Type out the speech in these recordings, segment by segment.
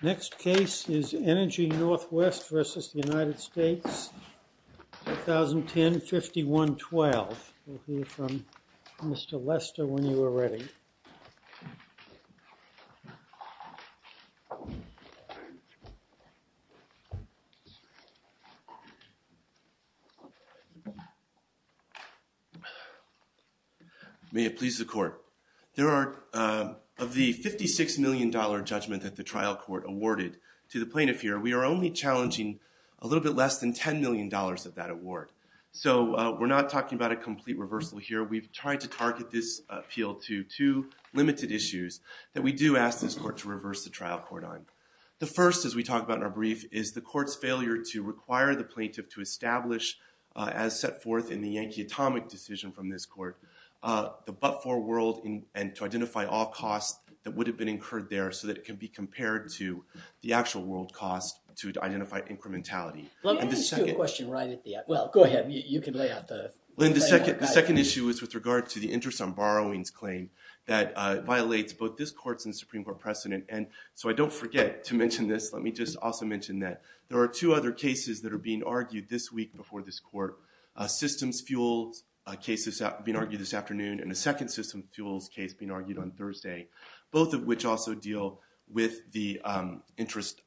Next case is ENERGY NORTHWEST v. United States, 2010-51-12. We'll hear from Mr. Lester when you are ready. May it please the court. There are of the $56 million judgment that the trial court awarded to the plaintiff here, we are only challenging a little bit less than $10 million of that award. So we're not talking about a complete reversal here. We've tried to target this appeal to two limited issues that we do ask this court to reverse the trial court on. The first, as we talked about in our brief, is the court's failure to require the plaintiff to establish, as set forth in the Yankee Atomic decision from this court, the but-for world and to identify all costs that would have been incurred there so that it can be compared to the actual world cost to identify incrementality. Let me just do a question right at the end. Well, go ahead. You can lay out the framework. Well, the second issue is with regard to the interest on borrowings claim that violates both this court's and Supreme Court precedent. And so I don't forget to mention this. Let me just also mention that there are two other cases that are being argued this week before this court. Systems fuel cases being argued this afternoon and a second systems fuels case being argued on Thursday, both of which also deal with the interest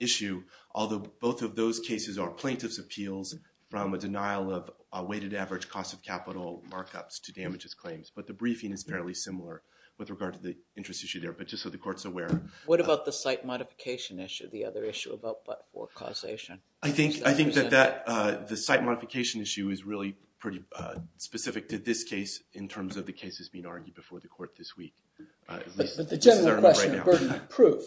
issue, although both of those cases are plaintiff's appeals from a denial of a weighted average cost of capital markups to damages claims. But the briefing is fairly similar with regard to the interest issue there. But just so the court's aware. What about the site modification issue, the other issue about but-for causation? I think that the site modification issue is really pretty specific to this case in terms of the cases being argued before the court this week. But the general question of burden of proof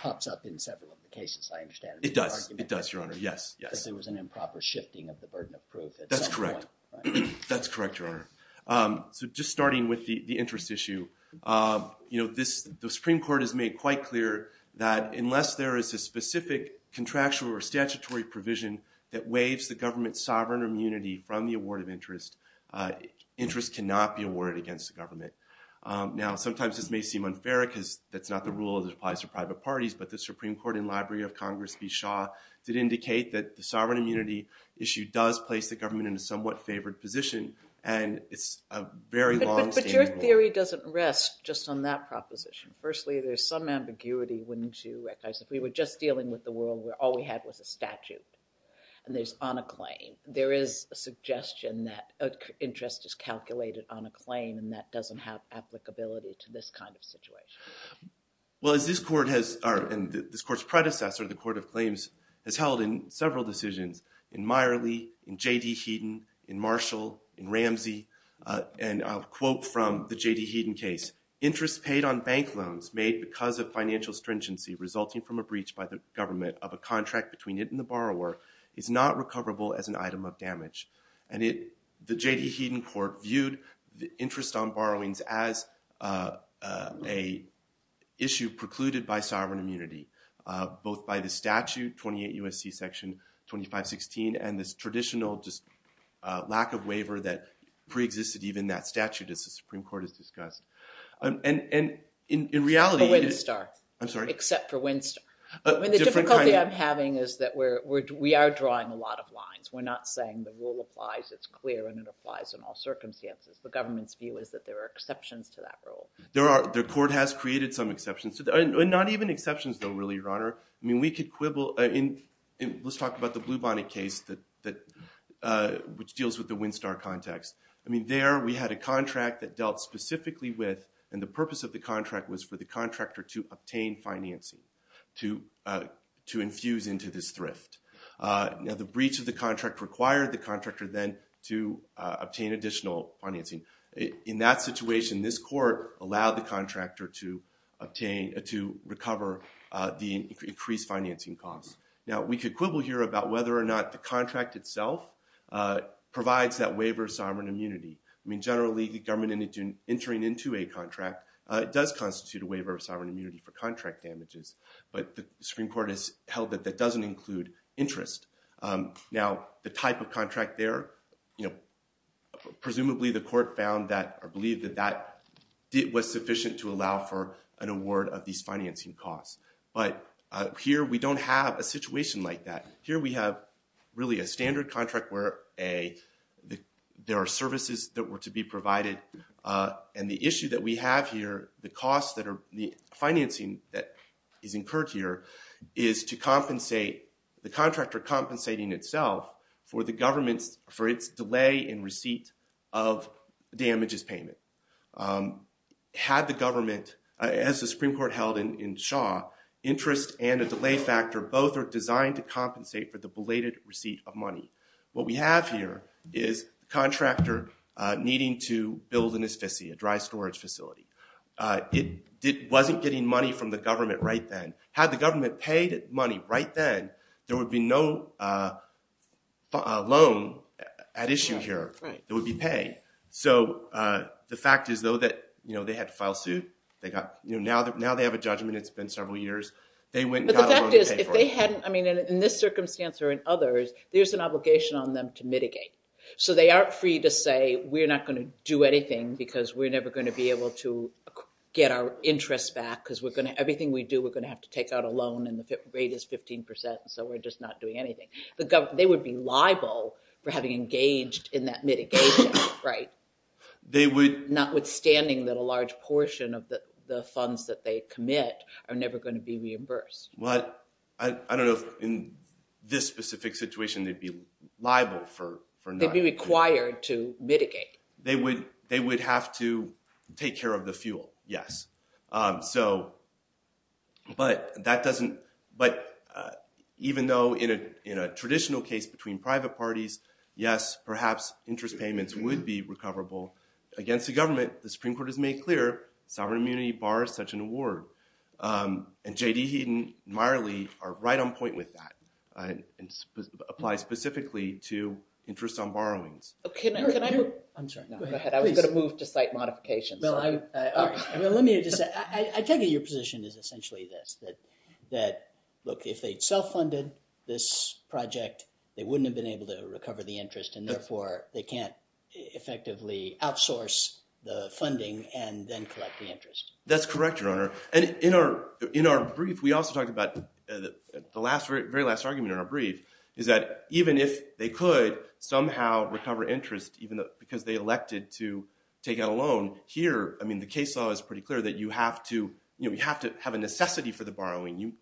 pops up in several of the cases, I understand. It does. It does, Your Honor. Yes. Yes. Because there was an improper shifting of the burden of proof at some point. That's correct. That's correct, Your Honor. So just starting with the interest issue, the Supreme Court has made quite clear that unless there is a specific contractual or statutory provision that waives the government's sovereign immunity from the award of interest, interest cannot be awarded against the government. Now, sometimes this may seem unfair because that's not the rule that applies to private parties. But the Supreme Court in library of Congress v. Shaw did indicate that the sovereign immunity issue does place the government in a somewhat favored position. And it's a very long-standing rule. But your theory doesn't rest just on that proposition. Firstly, there's some ambiguity when to recognize if we were just dealing with the world where all we had was a statute and there's on a claim, there is a suggestion that interest is calculated on a claim and that doesn't have applicability to this kind of situation. Well, as this court has, and this court's predecessor, the Court of Claims, has held in several decisions, in Meierle, in J.D. Heaton, in Marshall, in Ramsey, and I'll quote from the J.D. Heaton case. Interest paid on bank loans made because of financial stringency resulting from a breach by the government of a contract between it and the borrower is not recoverable as an item of damage. And the J.D. Heaton court viewed the interest on borrowings as a issue precluded by sovereign immunity, both by the statute, 28 U.S.C. Section 2516, and this traditional just lack of waiver that preexisted even that statute, as the Supreme Court has discussed. And in reality, it is star, I'm sorry, except for Winstar. I mean, the difficulty I'm having is that we are drawing a lot of lines. We're not saying the rule applies, it's clear, and it applies in all circumstances. The government's view is that there are exceptions to that rule. There are. The court has created some exceptions. And not even exceptions, though, really, Your Honor. I mean, we could quibble. Let's talk about the Blue Bonnet case, which deals with the Winstar context. I mean, there we had a contract that dealt specifically with, and the purpose of the contract was for the contractor to obtain financing, to infuse into this thrift. Now, the breach of the contract required the contractor, then, to obtain additional financing. In that situation, this court allowed the contractor to recover the increased financing costs. Now, we could quibble here about whether or not the contract itself provides that waiver of sovereign immunity. I mean, generally, the government entering into a contract does constitute a waiver of sovereign immunity for contract damages. But the Supreme Court has held that that doesn't include interest. Now, the type of contract there, presumably, the court found that, or believed that that was sufficient to allow for an award of these financing costs. But here, we don't have a situation like that. Here, we have, really, a standard contract where there are services that were to be provided. And the issue that we have here, the costs that are financing that is incurred here, is to compensate the contractor compensating itself for the government's, for its delay in receipt of damages payment. Had the government, as the Supreme Court held in Shaw, interest and a delay factor both are designed to compensate for the belated receipt of money. What we have here is a contractor needing to build an asphyxia, a dry storage facility. It wasn't getting money from the government right then. Had the government paid money right then, there would be no loan at issue here. It would be paid. So the fact is, though, that they had to file suit. Now, they have a judgment. It's been several years. They went and got a loan to pay for it. I mean, in this circumstance or in others, there's an obligation on them to mitigate. So they aren't free to say, we're not going to do anything, because we're never going to be able to get our interest back, because everything we do, we're going to have to take out a loan, and the rate is 15%, so we're just not doing anything. They would be liable for having engaged in that mitigation, notwithstanding that a large portion of the funds that they commit are never going to be reimbursed. I don't know if in this specific situation they'd be liable for nothing. They'd be required to mitigate. They would have to take care of the fuel, yes. But even though in a traditional case between private parties, yes, perhaps interest payments would be recoverable against the government, the Supreme Court has made clear, sovereign immunity bars such an award. And J.D. Heaton and Meyerly are right on point with that and apply specifically to interest on borrowings. OK. Can I move? I'm sorry. Go ahead. I was going to move to site modification. Well, I'm all right. Well, let me just say, I take it your position is essentially this, that look, if they'd self-funded this project, they wouldn't have been able to recover the interest, and therefore, they can't effectively outsource the funding and then collect the interest. That's correct, Your Honor. And in our brief, we also talked about the very last argument in our brief, is that even if they could somehow recover interest, even because they elected to take out a loan, here, I mean, the case law is pretty clear that you have to have a necessity for the borrowing.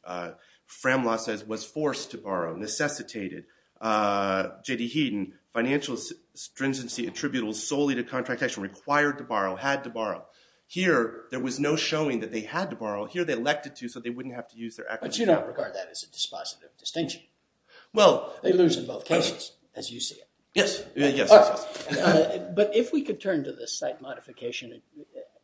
Fram law says, was forced to borrow, necessitated. J.D. Heaton, financial stringency attributable solely to contract action, required to borrow, had to borrow. Here, there was no showing that they had to borrow. Here, they elected to, so they wouldn't have to use their equity account. But you don't regard that as a dispositive distinction. Well, they lose in both cases, as you see it. Yes, yes. But if we could turn to the site modification,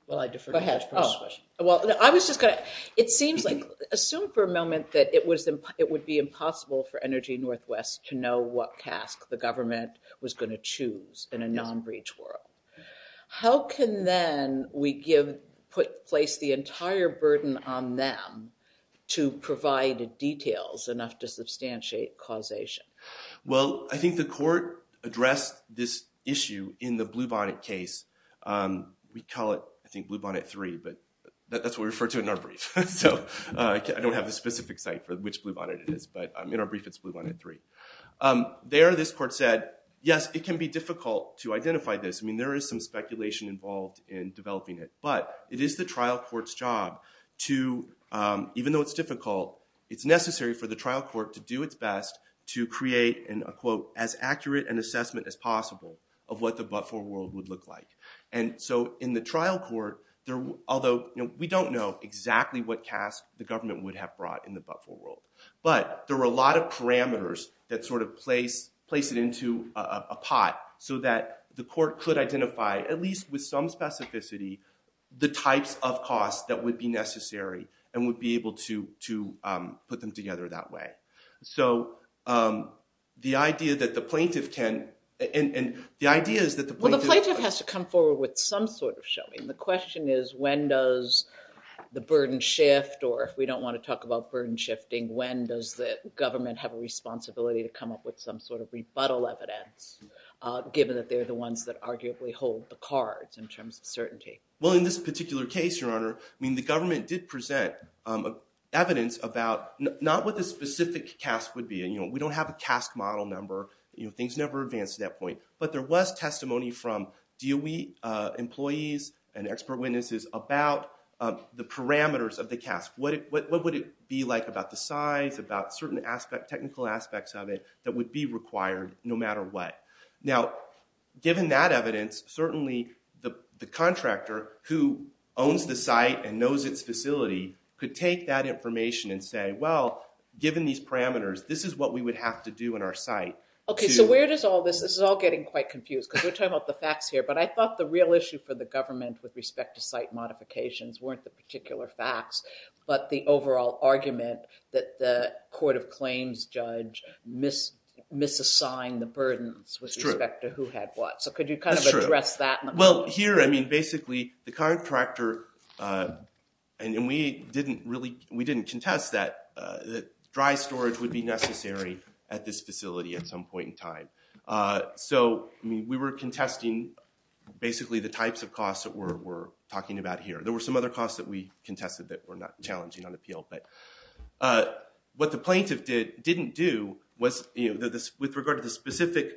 while I defer to Judge Perks' question. Well, I was just going to, it seems like, assume for a moment that it would be impossible for Energy Northwest to know what task the government was going to choose in a non-breach world. How can then we give, place the entire burden on them to provide details enough to substantiate causation? Well, I think the court addressed this issue in the Bluebonnet case. We call it, I think, Bluebonnet 3. But that's what we refer to in our brief. So I don't have the specific site for which Bluebonnet it is. But in our brief, it's Bluebonnet 3. There, this court said, yes, it can be difficult to identify this. I mean, there is some speculation involved in developing it. But it is the trial court's job to, even though it's difficult, it's necessary for the trial court to do its best to create, and I quote, as accurate an assessment as possible of what the but-for world would look like. And so in the trial court, although we don't know exactly what task the government would have brought in the but-for world. But there were a lot of parameters that sort of place it into a pot so that the court could give some specificity the types of costs that would be necessary and would be able to put them together that way. So the idea that the plaintiff can, and the idea is that the plaintiff has to come forward with some sort of showing. The question is, when does the burden shift? Or if we don't want to talk about burden shifting, when does the government have a responsibility to come up with some sort of rebuttal evidence, given that they're the ones that arguably hold the cards in terms of certainty? Well, in this particular case, Your Honor, the government did present evidence about not what the specific task would be. We don't have a task model number. Things never advance to that point. But there was testimony from DOE employees and expert witnesses about the parameters of the task. What would it be like about the size, about certain technical aspects of it that would be required no matter what? Now, given that evidence, certainly the contractor who owns the site and knows its facility could take that information and say, well, given these parameters, this is what we would have to do in our site. OK, so where does all this, this is all getting quite confused, because we're talking about the facts here. But I thought the real issue for the government with respect to site modifications weren't the particular facts, but the overall argument that the court of claims judge misassigned the burdens with respect to who had what. So could you kind of address that? Well, here, I mean, basically, the contractor, and we didn't contest that dry storage would be necessary at this facility at some point in time. So we were contesting, basically, the types of costs that we're talking about here. There were some other costs that we contested that were not challenging on appeal. But what the plaintiff didn't do was, with regard to the specific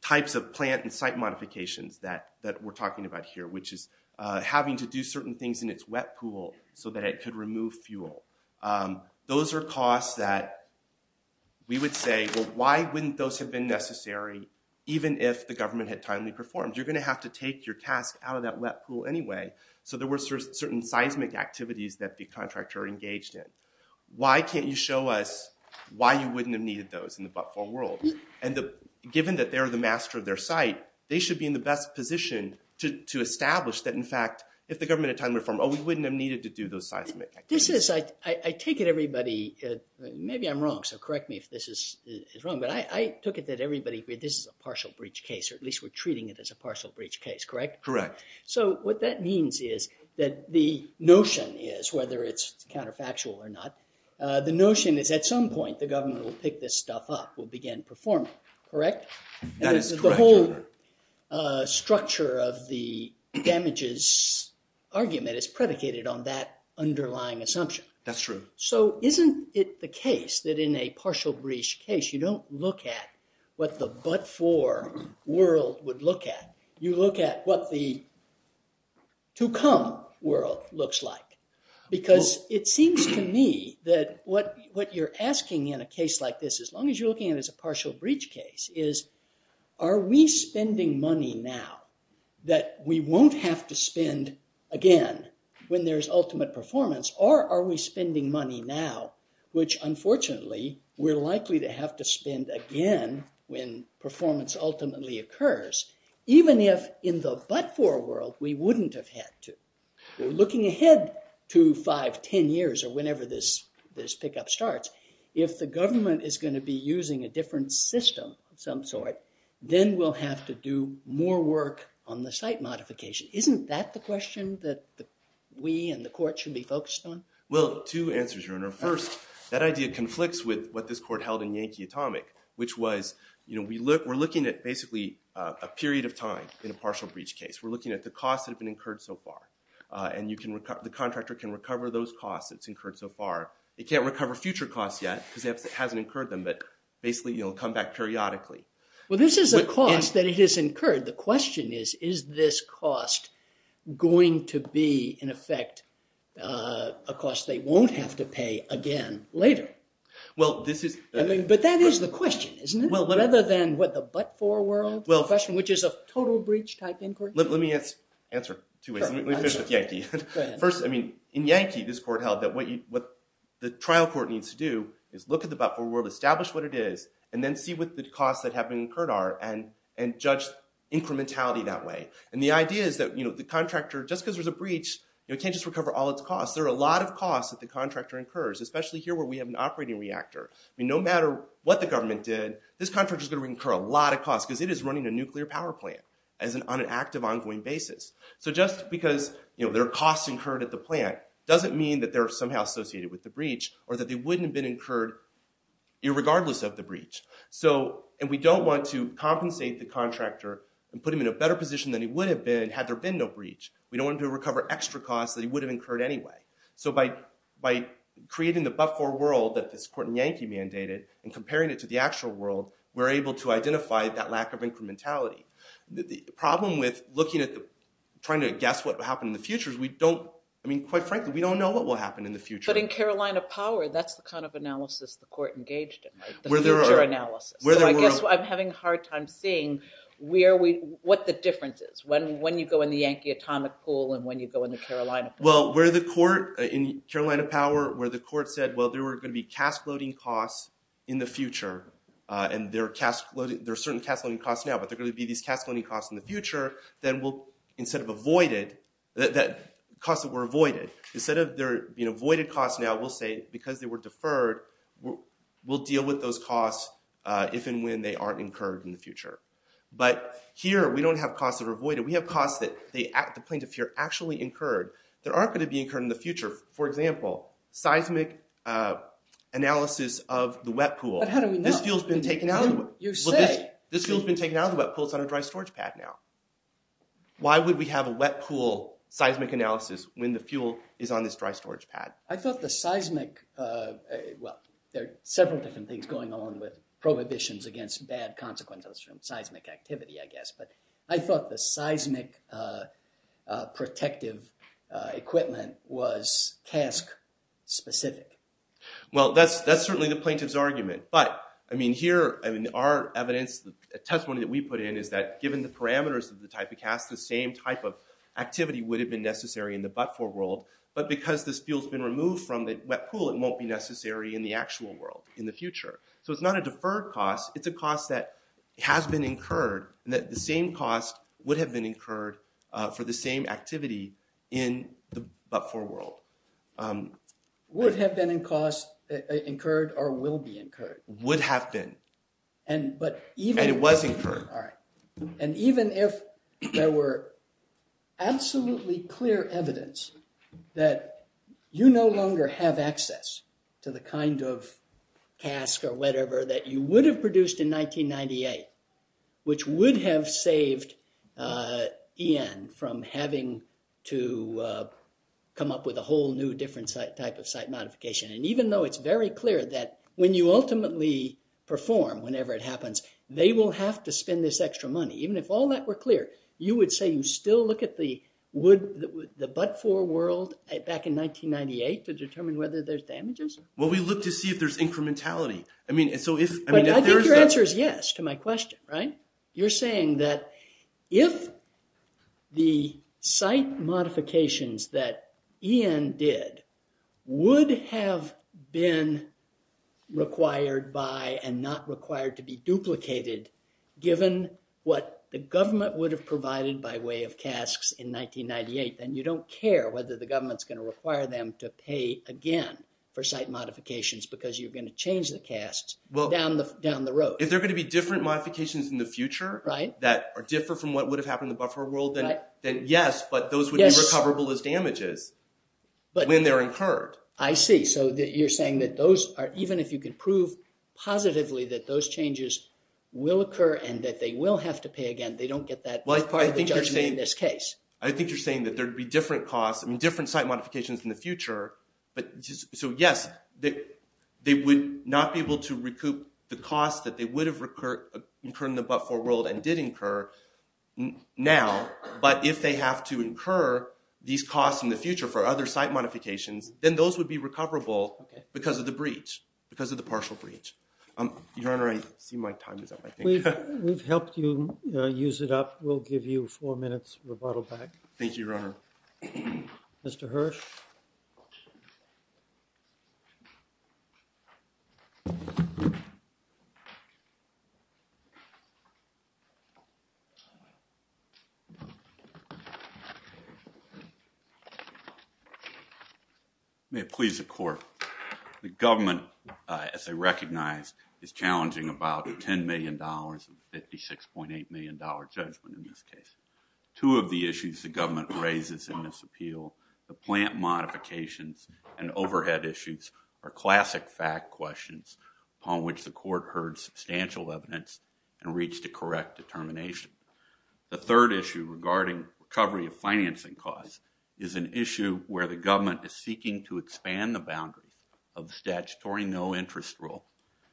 types of plant and site modifications that we're talking about here, which is having to do certain things in its wet pool so that it could remove fuel. Those are costs that we would say, well, why wouldn't those have been necessary, even if the government had timely performed? You're going to have to take your task out of that wet pool anyway. So there were certain seismic activities that the contractor engaged in. Why can't you show us why you wouldn't have done those in the wet pool world? And given that they're the master of their site, they should be in the best position to establish that, in fact, if the government had timely performed, oh, we wouldn't have needed to do those seismic activities. I take it everybody, maybe I'm wrong, so correct me if this is wrong, but I took it that everybody, this is a partial breach case, or at least we're treating it as a partial breach case, correct? Correct. So what that means is that the notion is, whether it's counterfactual or not, the notion is, at some point, the government will pick this stuff up, will begin performing it, correct? That is correct. The whole structure of the damages argument is predicated on that underlying assumption. That's true. So isn't it the case that in a partial breach case, you don't look at what the but-for world would look at, you look at what the to-come world looks like? Because it seems to me that what you're asking in a case like this, as long as you're looking at it as a partial breach case, is, are we spending money now that we won't have to spend again when there's ultimate performance, or are we spending money now, which unfortunately, we're likely to have to spend again when performance ultimately occurs, even if in the but-for world, we wouldn't have had to? We're looking ahead to 5, 10 years, or whenever this pickup starts. If the government is going to be using a different system of some sort, then we'll have to do more work on the site modification. Isn't that the question that we and the court should be focused on? Well, two answers, Your Honor. First, that idea conflicts with what this court held in Yankee Atomic, which was, we're looking at basically a period of time in a partial breach case. We're looking at the costs that have been incurred so far. And the contractor can recover those costs. They can't recover future costs yet, because it hasn't incurred them. But basically, it'll come back periodically. Well, this is a cost that it has incurred. The question is, is this cost going to be, in effect, a cost they won't have to pay again later? But that is the question, isn't it? Rather than what, the but-for world question, which is a total breach type inquiry? Let me answer two ways. Let me finish with Yankee. First, in Yankee, this court held that what the trial court needs to do is look at the but-for world, establish what it is, and then see what the costs that have been incurred are, and judge incrementality that way. And the idea is that the contractor, just because there's a breach, it can't just recover all its costs. There are a lot of costs that the contractor incurs, especially here where we have an operating reactor. No matter what the government did, this contractor is going to incur a lot of costs, because it is running a nuclear power plant on an active, ongoing basis. So just because there are costs incurred at the plant doesn't mean that they're somehow associated with the breach, or that they wouldn't have been incurred irregardless of the breach. And we don't want to compensate the contractor and put him in a better position than he would have been, had there been no breach. We don't want him to recover extra costs that he would have incurred anyway. So by creating the but-for world that this court in Yankee mandated, and comparing it to the actual world, we're able to identify that lack of incrementality. The problem with trying to guess what will happen in the future is, quite frankly, we don't know what will happen in the future. But in Carolina Power, that's the kind of analysis the court engaged in, the future analysis. So I guess I'm having a hard time seeing what the difference is, when you go in the Yankee atomic pool and when you go in the Carolina Power. Well, in Carolina Power, where the court said, well, there are going to be cask-loading costs in the future, and there are certain cask-loading costs now, but there are going to be these cask-loading costs in the future, then we'll, instead of avoided, that costs that were avoided, instead of there being avoided costs now, we'll say, because they were deferred, we'll deal with those costs if and when they aren't incurred in the future. But here, we don't have costs that are avoided. We have costs that they, at the point of fear, actually incurred, that aren't going to be incurred in the future. For example, seismic analysis of the wet pool. But how do we know? This fuel's been taken out of the wet pool. This fuel's been taken out of the wet pool. It's on a dry storage pad now. Why would we have a wet pool seismic analysis when the fuel is on this dry storage pad? I thought the seismic, well, there are several different things going on with prohibitions against bad consequences from seismic activity, I guess. But I thought the seismic protective equipment was cask-specific. Well, that's certainly the plaintiff's argument. But here, in our evidence, the testimony that we put in is that given the parameters of the type of cask, the same type of activity would have been necessary in the but-for world. But because this fuel's been removed from the wet pool, it won't be necessary in the actual world in the future. So it's not a deferred cost. It's a cost that has been incurred, and that the same cost would have been incurred for the same activity in the but-for world. Would have been incurred or will be incurred. Would have been. And it was incurred. And even if there were absolutely clear evidence that you no longer have access to the kind of cask or whatever that you would have produced in 1998, which would have saved EN from having to come up with a whole new different type of site modification. And even though it's very clear that when you ultimately perform, whenever it happens, they will have to spend this extra money. Even if all that were clear, you would say you still look at the but-for world back in 1998 to determine whether there's damages? Well, we look to see if there's incrementality. I mean, so if there is that. I think your answer is yes to my question, right? You're saying that if the site modifications that EN did would have been required by and not required to be duplicated, given what the government would have provided by way of casks in 1998, then you don't care whether the government's going to require them to pay again for site modifications because you're going to change the casks down the road. If there are going to be different modifications in the future that differ from what would have happened in the but-for world, then yes. But those would be recoverable as damages when they're incurred. I see. So you're saying that those are, even if you can prove positively that those changes will occur and that they will have to pay again, they don't get that part of the judgment in this case. I think you're saying that there'd be different costs and different site modifications in the future. So yes, they would not be able to recoup the costs that they would have incurred in the but-for world and did incur now. But if they have to incur these costs in the future for other site modifications, then those would be recoverable because of the breach, because of the partial breach. Your Honor, I see my time is up, I think. We've helped you use it up. We'll give you four minutes to rebuttal back. Thank you, Your Honor. Mr. Hirsch? Thank you, Your Honor. May it please the court. The government, as I recognize, is challenging about $10 million, a $56.8 million judgment in this case. Two of the issues the government raises in this appeal, the plant modifications and overhead issues, are classic fact questions upon which the court heard substantial evidence and reached a correct determination. The third issue regarding recovery of financing costs is an issue where the government is seeking to expand the boundaries of the statutory no interest rule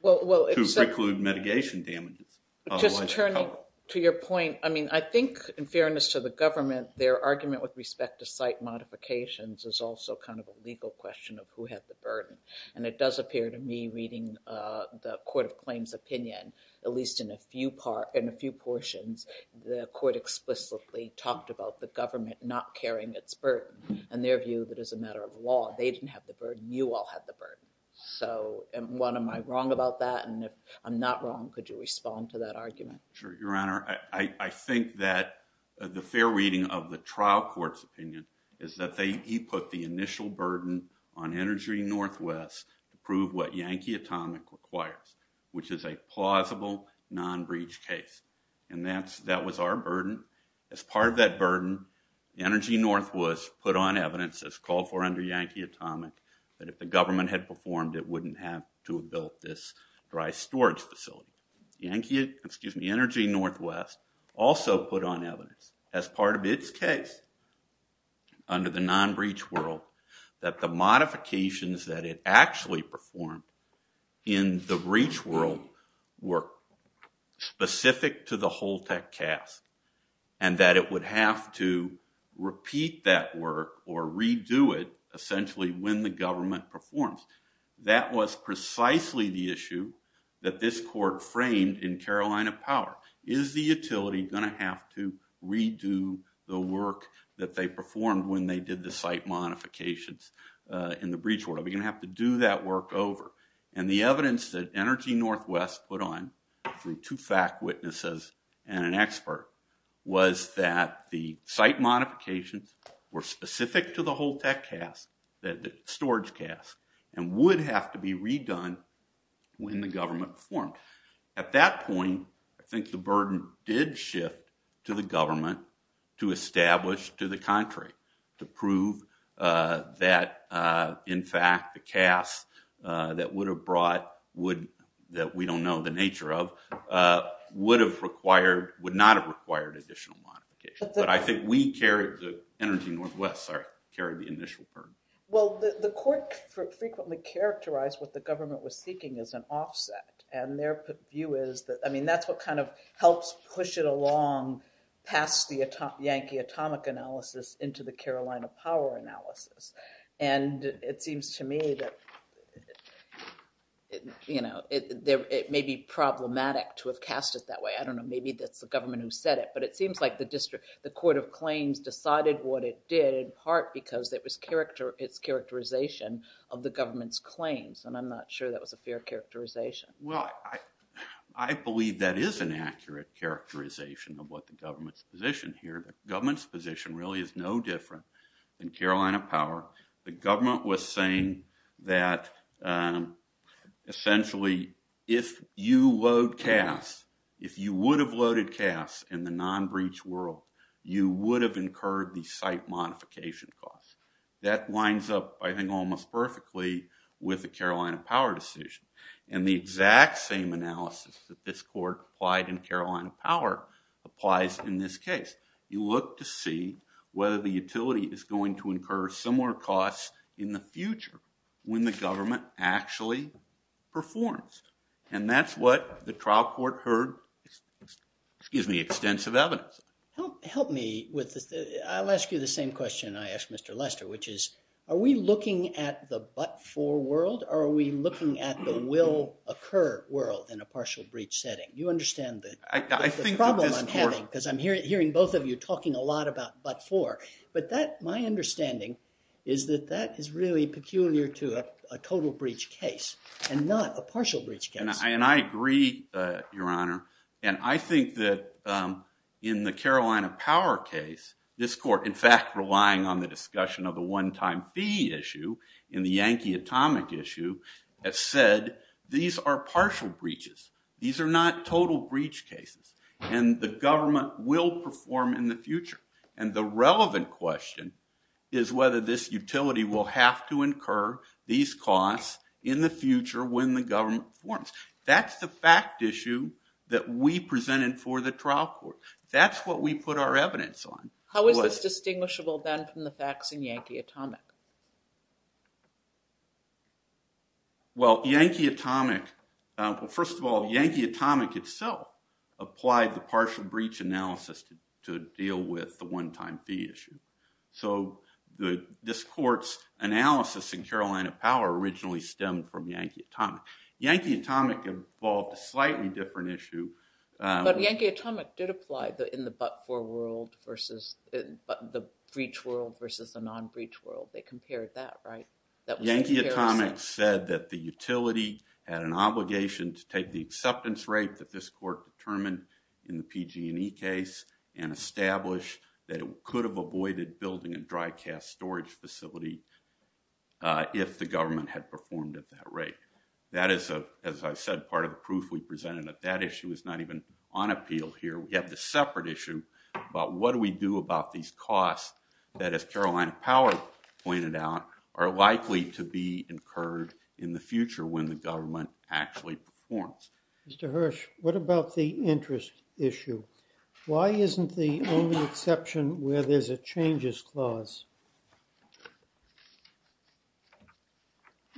to preclude mitigation damages. Just turning to your point, I mean, I think, in fairness to the government, their argument with respect to site modifications is also kind of a legal question of who had the burden. And it does appear to me, reading the court of claims opinion, at least in a few portions, the court explicitly talked about the government not carrying its burden. In their view, that is a matter of law. They didn't have the burden. You all had the burden. So what am I wrong about that? And if I'm not wrong, could you respond to that argument? Sure, Your Honor. I think that the fair reading of the trial court's opinion is that he put the initial burden on Energy Northwest to prove what Yankee Atomic requires, which is a plausible non-breach case. And that was our burden. As part of that burden, Energy Northwest put on evidence, as called for under Yankee Atomic, that if the government had performed, it wouldn't have to have built this dry storage facility. Energy Northwest also put on evidence, as part of its case under the non-breach world, that the modifications that it actually performed in the breach world were specific to the Holtec cast, and that it would have to repeat that work or redo it, essentially, when the government performs. That was precisely the issue that this court framed in Carolina Power. Is the utility going to have to redo the work that they performed when they did the site modifications in the breach world? Are we going to have to do that work over? And the evidence that Energy Northwest put on through two fact witnesses and an expert was that the site modifications were specific to the Holtec cast, the storage cast, and would have to be redone when the government performed. At that point, I think the burden did shift to the government to establish to the contrary, to prove that, in fact, the cast that would have brought, that we don't know the nature of, would not have required additional modification. But I think we carried, Energy Northwest carried the initial burden. Well, the court frequently characterized what the government was seeking as an offset. And their view is that, I mean, that's what kind of helps push it along past the Yankee atomic analysis into the Carolina power analysis. And it seems to me that it may be problematic to have cast it that way. I don't know. Maybe that's the government who said it. But it seems like the court of claims decided what it did in part because it was its characterization of the government's claims. And I'm not sure that was a fair characterization. Well, I believe that is an accurate characterization of what the government's position here. Government's position really is no different than Carolina power. The government was saying that, essentially, if you load cast, if you would have loaded cast in the non-breach world, you would have incurred the site modification costs. That lines up, I think, almost perfectly with the Carolina power decision. And the exact same analysis that this court applied in Carolina power applies in this case. You look to see whether the utility is going to incur similar costs in the future when the government actually performs. And that's what the trial court heard gives me extensive evidence. Help me with this. I'll ask you the same question I asked Mr. Lester, which is, are we looking at the but-for world, or are we looking at the will-occur world in a partial breach setting? You understand the problem I'm having, because I'm hearing both of you talking a lot about but-for. But my understanding is that that is really peculiar to a total breach case, and not a partial breach case. And I agree, Your Honor. And I think that in the Carolina power case, this court, in fact, relying on the discussion of the one-time fee issue in the Yankee atomic issue, has said these are partial breaches. These are not total breach cases. And the government will perform in the future. And the relevant question is whether this utility will have to incur these costs in the future when the government performs. That's the fact issue that we presented for the trial court. That's what we put our evidence on. How is this distinguishable, then, from the facts in Yankee atomic? Well, Yankee atomic, well, first of all, Yankee atomic itself applied the partial breach analysis to deal with the one-time fee issue. So this court's analysis in Carolina power originally stemmed from Yankee atomic. Yankee atomic involved a slightly different issue. But Yankee atomic did apply in the but-for world versus the breach world versus the non-breach world. They compared that, right? Yankee atomic said that the utility had an obligation to take the acceptance rate that this court determined in the PG&E case and establish that it could have avoided building a dry cast storage facility if the government had performed at that rate. That is, as I said, part of the proof we presented that that issue is not even on appeal here. We have the separate issue about what do we do about these costs that, as Carolina Power pointed out, are likely to be incurred in the future when the government actually performs. Mr. Hirsch, what about the interest issue? Why isn't the only exception where there's a changes clause?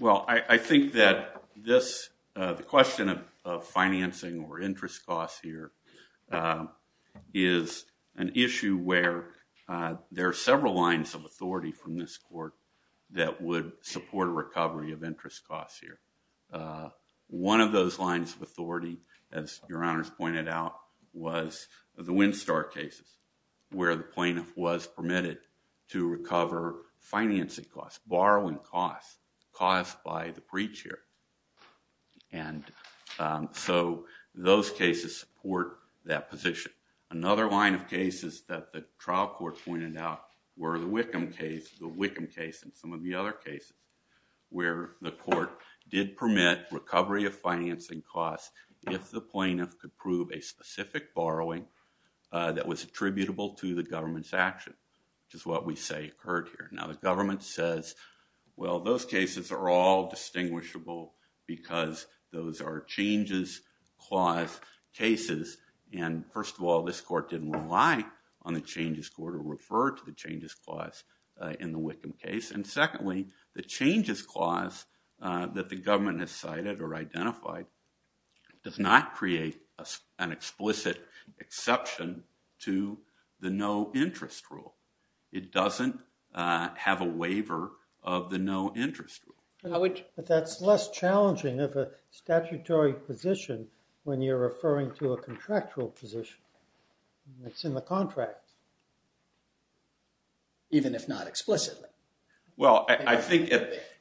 Well, I think that the question of financing or interest costs here is an issue where there are several lines of authority from this court that would support a recovery of interest costs here. One of those lines of authority, as your honors pointed out, was the Winstar cases, where the plaintiff was permitted to recover financing costs, borrowing costs, caused by the breach here. And so those cases support that position. Another line of cases that the trial court pointed out were the Wickham case, the Wickham case, and some of the other cases, where the court did permit recovery of financing costs if the plaintiff could prove a specific borrowing that was attributable to the government's action, which is what we say occurred here. Now, the government says, well, those cases are all distinguishable because those are changes clause cases. And first of all, this court didn't rely on the changes court or refer to the changes clause in the Wickham case. And secondly, the changes clause that the government has cited or identified does not create an explicit exception to the no interest rule. It doesn't have a waiver of the no interest rule. But that's less challenging of a statutory position when you're referring to a contractual position. It's in the contract. Even if not explicitly. Well, I think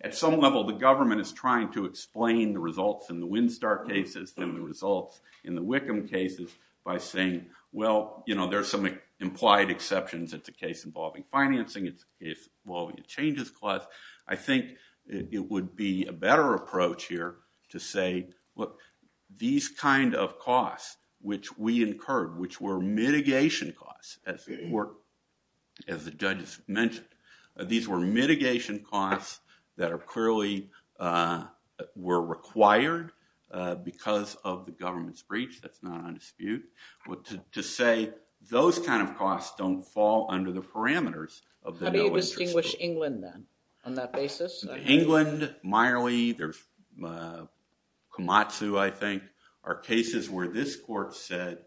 at some level, the government is trying to explain the results in the Winstar cases and the results in the Wickham cases by saying, well, there are some implied exceptions. It's a case involving financing. It's a case involving a changes clause. I think it would be a better approach here to say, look, these kind of costs which we incurred, which were mitigation costs, as the judges mentioned. These were mitigation costs that clearly were required because of the government's breach. That's not on dispute. To say those kind of costs don't fall under the parameters of the no interest rule. How do you distinguish England, then, on that basis? England, Miley, there's Komatsu, I think, are cases where this court said,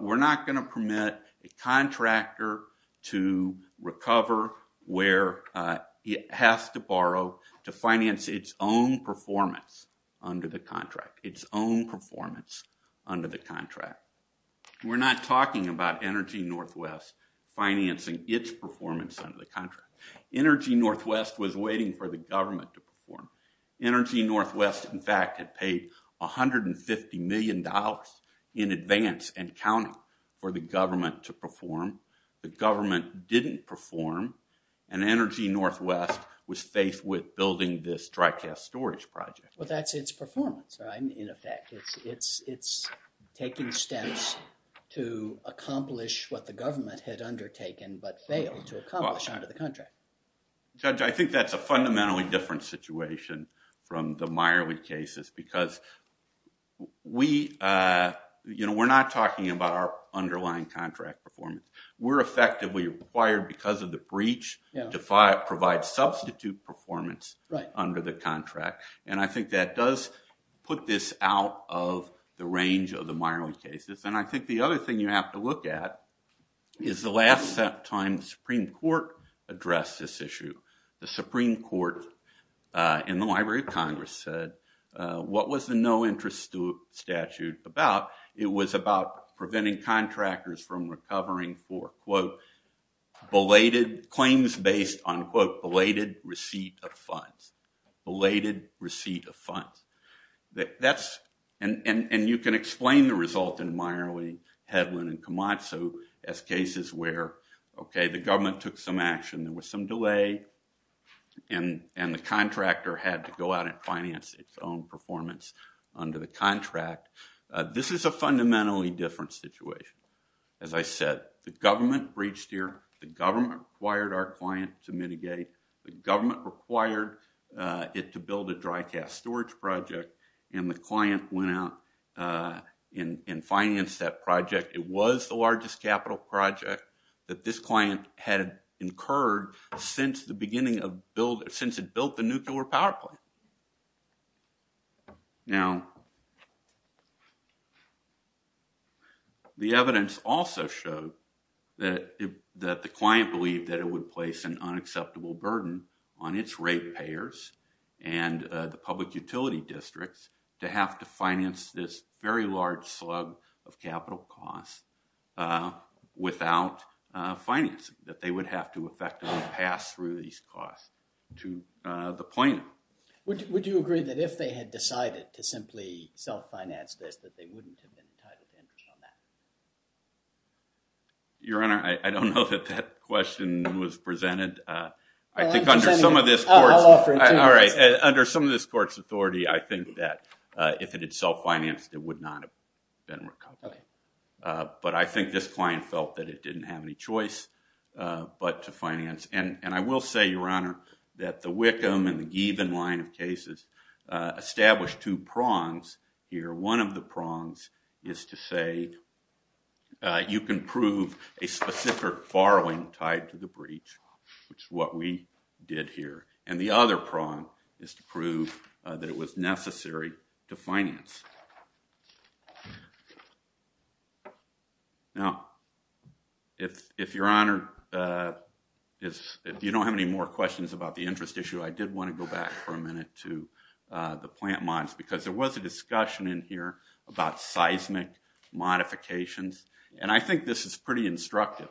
we're not going to permit a contractor to recover where it has to borrow to finance its own performance under the contract. Its own performance under the contract. We're not talking about Energy Northwest financing its performance under the contract. Energy Northwest was waiting for the government to perform. Energy Northwest, in fact, had paid $150 million in advance and counting for the government to perform. The government didn't perform, and Energy Northwest was faced with building this dry cast storage project. Well, that's its performance, in effect. It's taking steps to accomplish what the government had undertaken, but failed to accomplish under the contract. Judge, I think that's a fundamentally different situation from the Miley cases, because we're not talking about our underlying contract performance. We're effectively required, because of the breach, to provide substitute performance under the contract. And I think that does put this out of the range of the Miley cases. And I think the other thing you have to look at is the last time the Supreme Court addressed this issue. The Supreme Court in the Library of Congress said, what was the no interest statute about? It was about preventing contractors from recovering for, quote, belated claims based on, quote, belated receipt of funds. Belated receipt of funds. And you can explain the result in Miley, Hedlund, and Camazzo as cases where, OK, the government took some action. There was some delay. And the contractor had to go out and finance its own performance under the contract. This is a fundamentally different situation. As I said, the government breached here. The government required our client to mitigate. The government required it to build a dry cast storage project. And the client went out and financed that project. It was the largest capital project that this client had incurred since it built the nuclear power plant. Now, the evidence also showed that the client believed that it would place an unacceptable burden on its rate payers and the public utility districts to have to finance this very large slug of capital costs without financing, that they would have to effectively pass through these costs to the plaintiff. Would you agree that if they had decided to simply self-finance this, that they wouldn't have been entitled to interest on that? Your Honor, I don't know that that question was presented. I think under some of this court's authority, I think that if it had self-financed, it would not have been recovered. But I think this client felt that it didn't have any choice but to finance. And I will say, Your Honor, that the Wickham and the Gieben line of cases established two prongs here. One of the prongs is to say you can prove a specific borrowing tied to the breach, which is what we did here. And the other prong is to prove that it was necessary to finance. Now, if Your Honor, if you don't have any more questions about the interest issue, I did want to go back for a minute to the plant mods. Because there was a discussion in here about seismic modifications. And I think this is pretty instructive.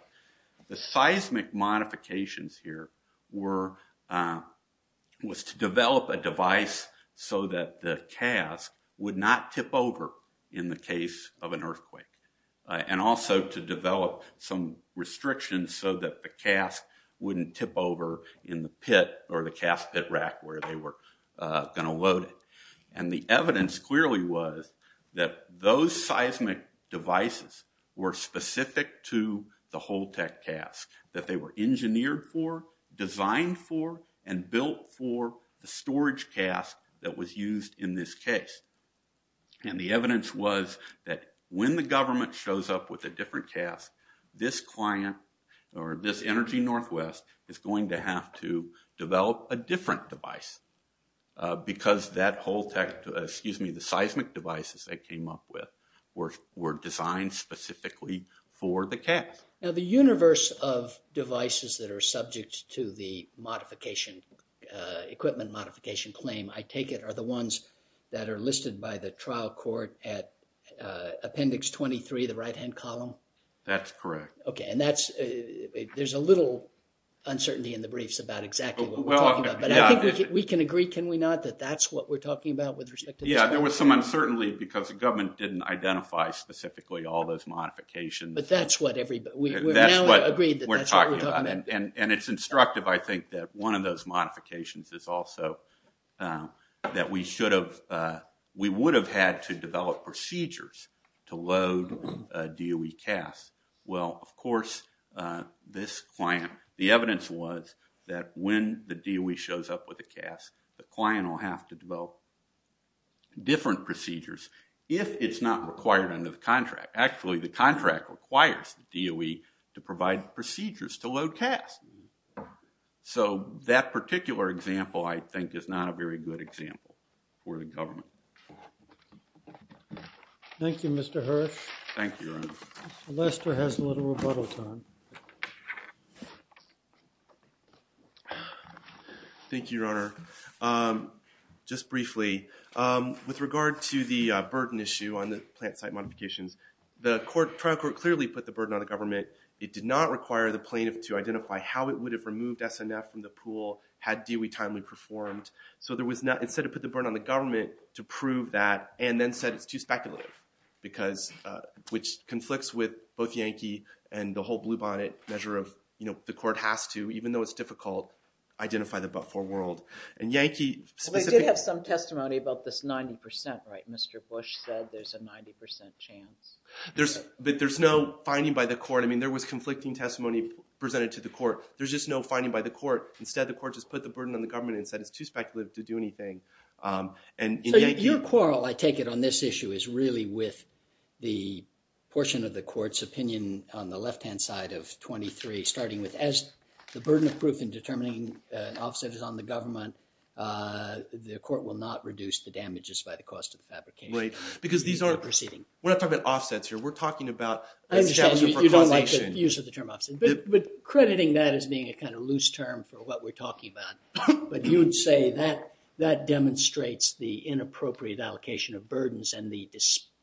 The seismic modifications here was to develop a device so that the cask would not tip over in the case of an earthquake, and also to develop some restrictions so that the cask wouldn't tip over in the pit or the cask pit rack where they were going to load it. And the evidence clearly was that those seismic devices were specific to the Holtec cask, that they were engineered for, designed for, and built for the storage cask that was used in this case. And the evidence was that when the government shows up with a different cask, this client, or this Energy Northwest, is going to have to develop a different device. Because that Holtec, excuse me, the seismic devices they came up with were designed specifically for the cask. Now, the universe of devices that are subject to the modification, equipment modification claim, I take it, are the ones that are listed by the trial court at appendix 23, the right-hand column? That's correct. OK, and that's, there's a little uncertainty in the briefs about exactly what we're talking about. But I think we can agree, can we not, that that's what we're talking about with respect to this? Yeah, there was some uncertainty because the government didn't identify specifically all those modifications. But that's what everybody, we've now agreed that that's what we're talking about. And it's instructive, I think, that one of those modifications is also that we should have, we would have had to develop procedures to load DOE casks. Well, of course, this client, the evidence was that when the DOE shows up with a cask, the client will have to develop different procedures if it's not required under the contract. Actually, the contract requires the DOE to provide procedures to load casks. So that particular example, I think, is not a very good example for the government. Thank you, Mr. Hirsh. Thank you, Your Honor. Lester has a little rebuttal time. Thank you, Your Honor. Just briefly, with regard to the burden issue on the plant site modifications, the trial court clearly put the burden on the government. It did not require the plaintiff to identify how it would have removed SNF from the pool had DOE timely performed. So instead it put the burden on the government to prove that, and then said it's too speculative, which conflicts with both Yankee and the whole blue bonnet measure of the court has to, even though it's difficult, identify the but-for world. And Yankee, specifically. Well, they did have some testimony about this 90%, right? Mr. Bush said there's a 90% chance. But there's no finding by the court. I mean, there was conflicting testimony presented to the court. There's just no finding by the court. Instead, the court just put the burden on the government and said it's too speculative to do anything. So your quarrel, I take it, on this issue is really with the portion of the court's opinion on the left-hand side of 23, starting with as the burden of proof in determining offsets is on the government, the court will not reduce the damages by the cost of the fabrication. Right. Because these are proceeding. We're not talking about offsets here. We're talking about establishment for causation. I understand you don't like the use of the term offset. But crediting that as being a kind of loose term for what we're talking about. But you would say that demonstrates the inappropriate allocation of burdens and the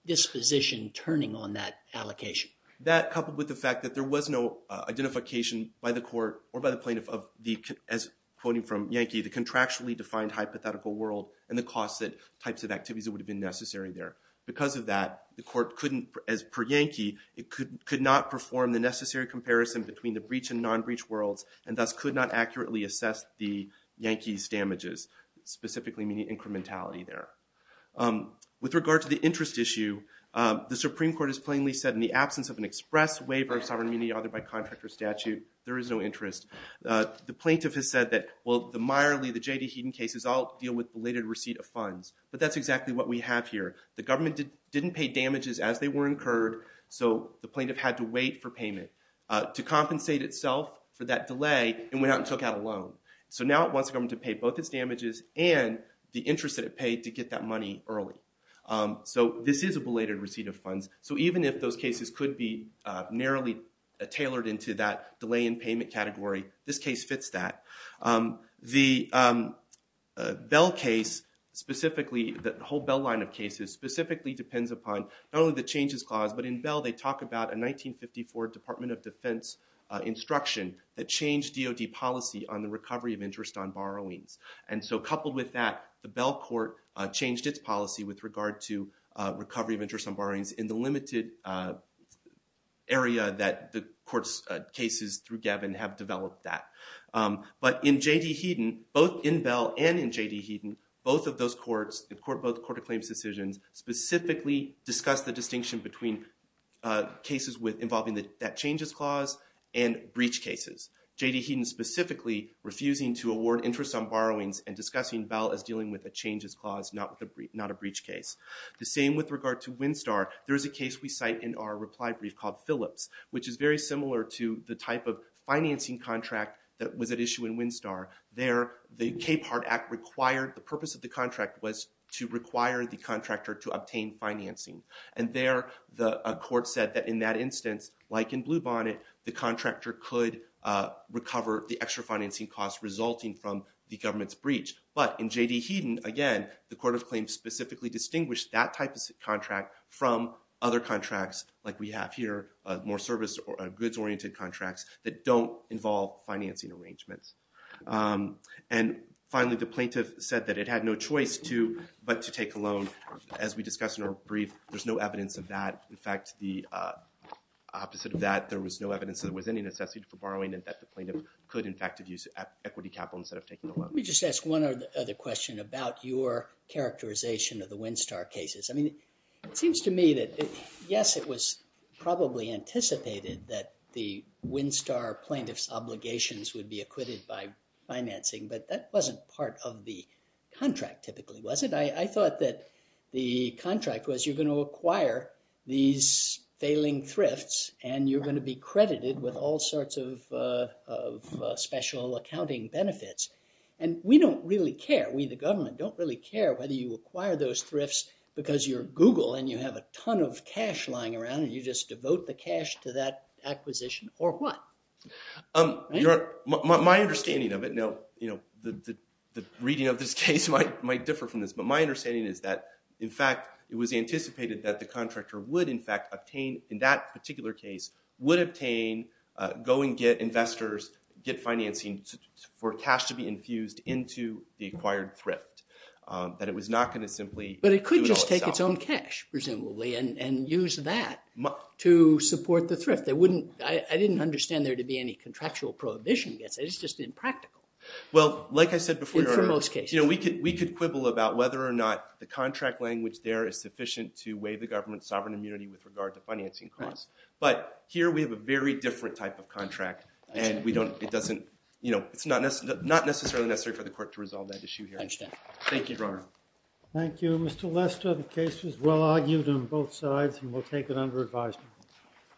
disposition turning on that allocation. That, coupled with the fact that there was no identification by the court or by the plaintiff of the, as quoting from Yankee, the contractually-defined hypothetical world and the costs that types of activities that would have been necessary there. Because of that, the court couldn't, as per Yankee, it could not perform the necessary comparison between the breach and non-breach worlds, and thus could not accurately assess the Yankees' damages, specifically meaning incrementality there. With regard to the interest issue, the Supreme Court has plainly said, in the absence of an express waiver of sovereign immunity authored by contract or statute, there is no interest. The plaintiff has said that, well, the Meyerly, the J.D. Heaton cases all deal with related receipt of funds. But that's exactly what we have here. The government didn't pay damages as they were incurred, so the plaintiff had to wait for payment to compensate itself for that delay and went out and took out a loan. So now it wants the government to pay both its damages and the interest that it paid to get that money early. So this is a belated receipt of funds. So even if those cases could be narrowly tailored into that delay in payment category, this case fits that. The Bell case specifically, the whole Bell line of cases specifically depends upon not only the Changes Clause, but in Bell they talk about a 1954 Department of Defense instruction that changed DOD policy on the recovery of interest on borrowings. And so coupled with that, the Bell court changed its policy with regard to recovery of interest on borrowings in the limited area that the court's cases through Gavin have developed that. But in J.D. Heaton, both in Bell and in J.D. Heaton, both of those courts, both court of claims decisions specifically discuss the distinction between cases involving that Changes Clause and breach cases. J.D. Heaton specifically refusing to award interest on borrowings and discussing Bell as dealing with a Changes Clause, not a breach case. The same with regard to Winstar. There is a case we cite in our reply brief called Phillips, which is very similar to the type of financing contract that was at issue in Winstar. There, the Capehart Act required, the purpose of the contract was to require the contractor to obtain financing. And there, a court said that in that instance, like in Bluebonnet, the contractor could recover the extra financing costs resulting from the government's breach. But in J.D. Heaton, again, the court of claims specifically distinguished that type of contract from other contracts like we have here, more service or goods-oriented contracts that don't involve financing arrangements. And finally, the plaintiff said that it had no choice to but to take a loan. As we discussed in our brief, there's no evidence of that. In fact, the opposite of that, there was no evidence that there was any necessity for borrowing and that the plaintiff could, in fact, have used equity capital instead of taking a loan. Let me just ask one other question about your characterization of the Winstar cases. I mean, it seems to me that, yes, it was probably anticipated that the Winstar plaintiff's obligations would be acquitted by financing, but that wasn't part of the contract typically, was it? I thought that the contract was you're gonna acquire these failing thrifts and you're gonna be credited with all sorts of special accounting benefits. And we don't really care, we, the government, don't really care whether you acquire those thrifts because you're Google and you have a ton of cash lying around and you just devote the cash to that acquisition or what? My understanding of it, now, the reading of this case might differ from this, but my understanding is that, in fact, it was anticipated that the contractor would, in fact, obtain, in that particular case, would obtain, go and get investors, get financing for cash to be infused into the acquired thrift, that it was not gonna simply. But it could just take its own cash, presumably, and use that to support the thrift. I didn't understand there to be any contractual prohibition against it, it's just impractical. Well, like I said before. In most cases. We could quibble about whether or not the contract language there is sufficient to waive the government's sovereign immunity with regard to financing costs. But here we have a very different type of contract to resolve that issue here. I understand. Thank you, Your Honor. Thank you. Mr. Lester, the case was well-argued on both sides, and we'll take it under advisement.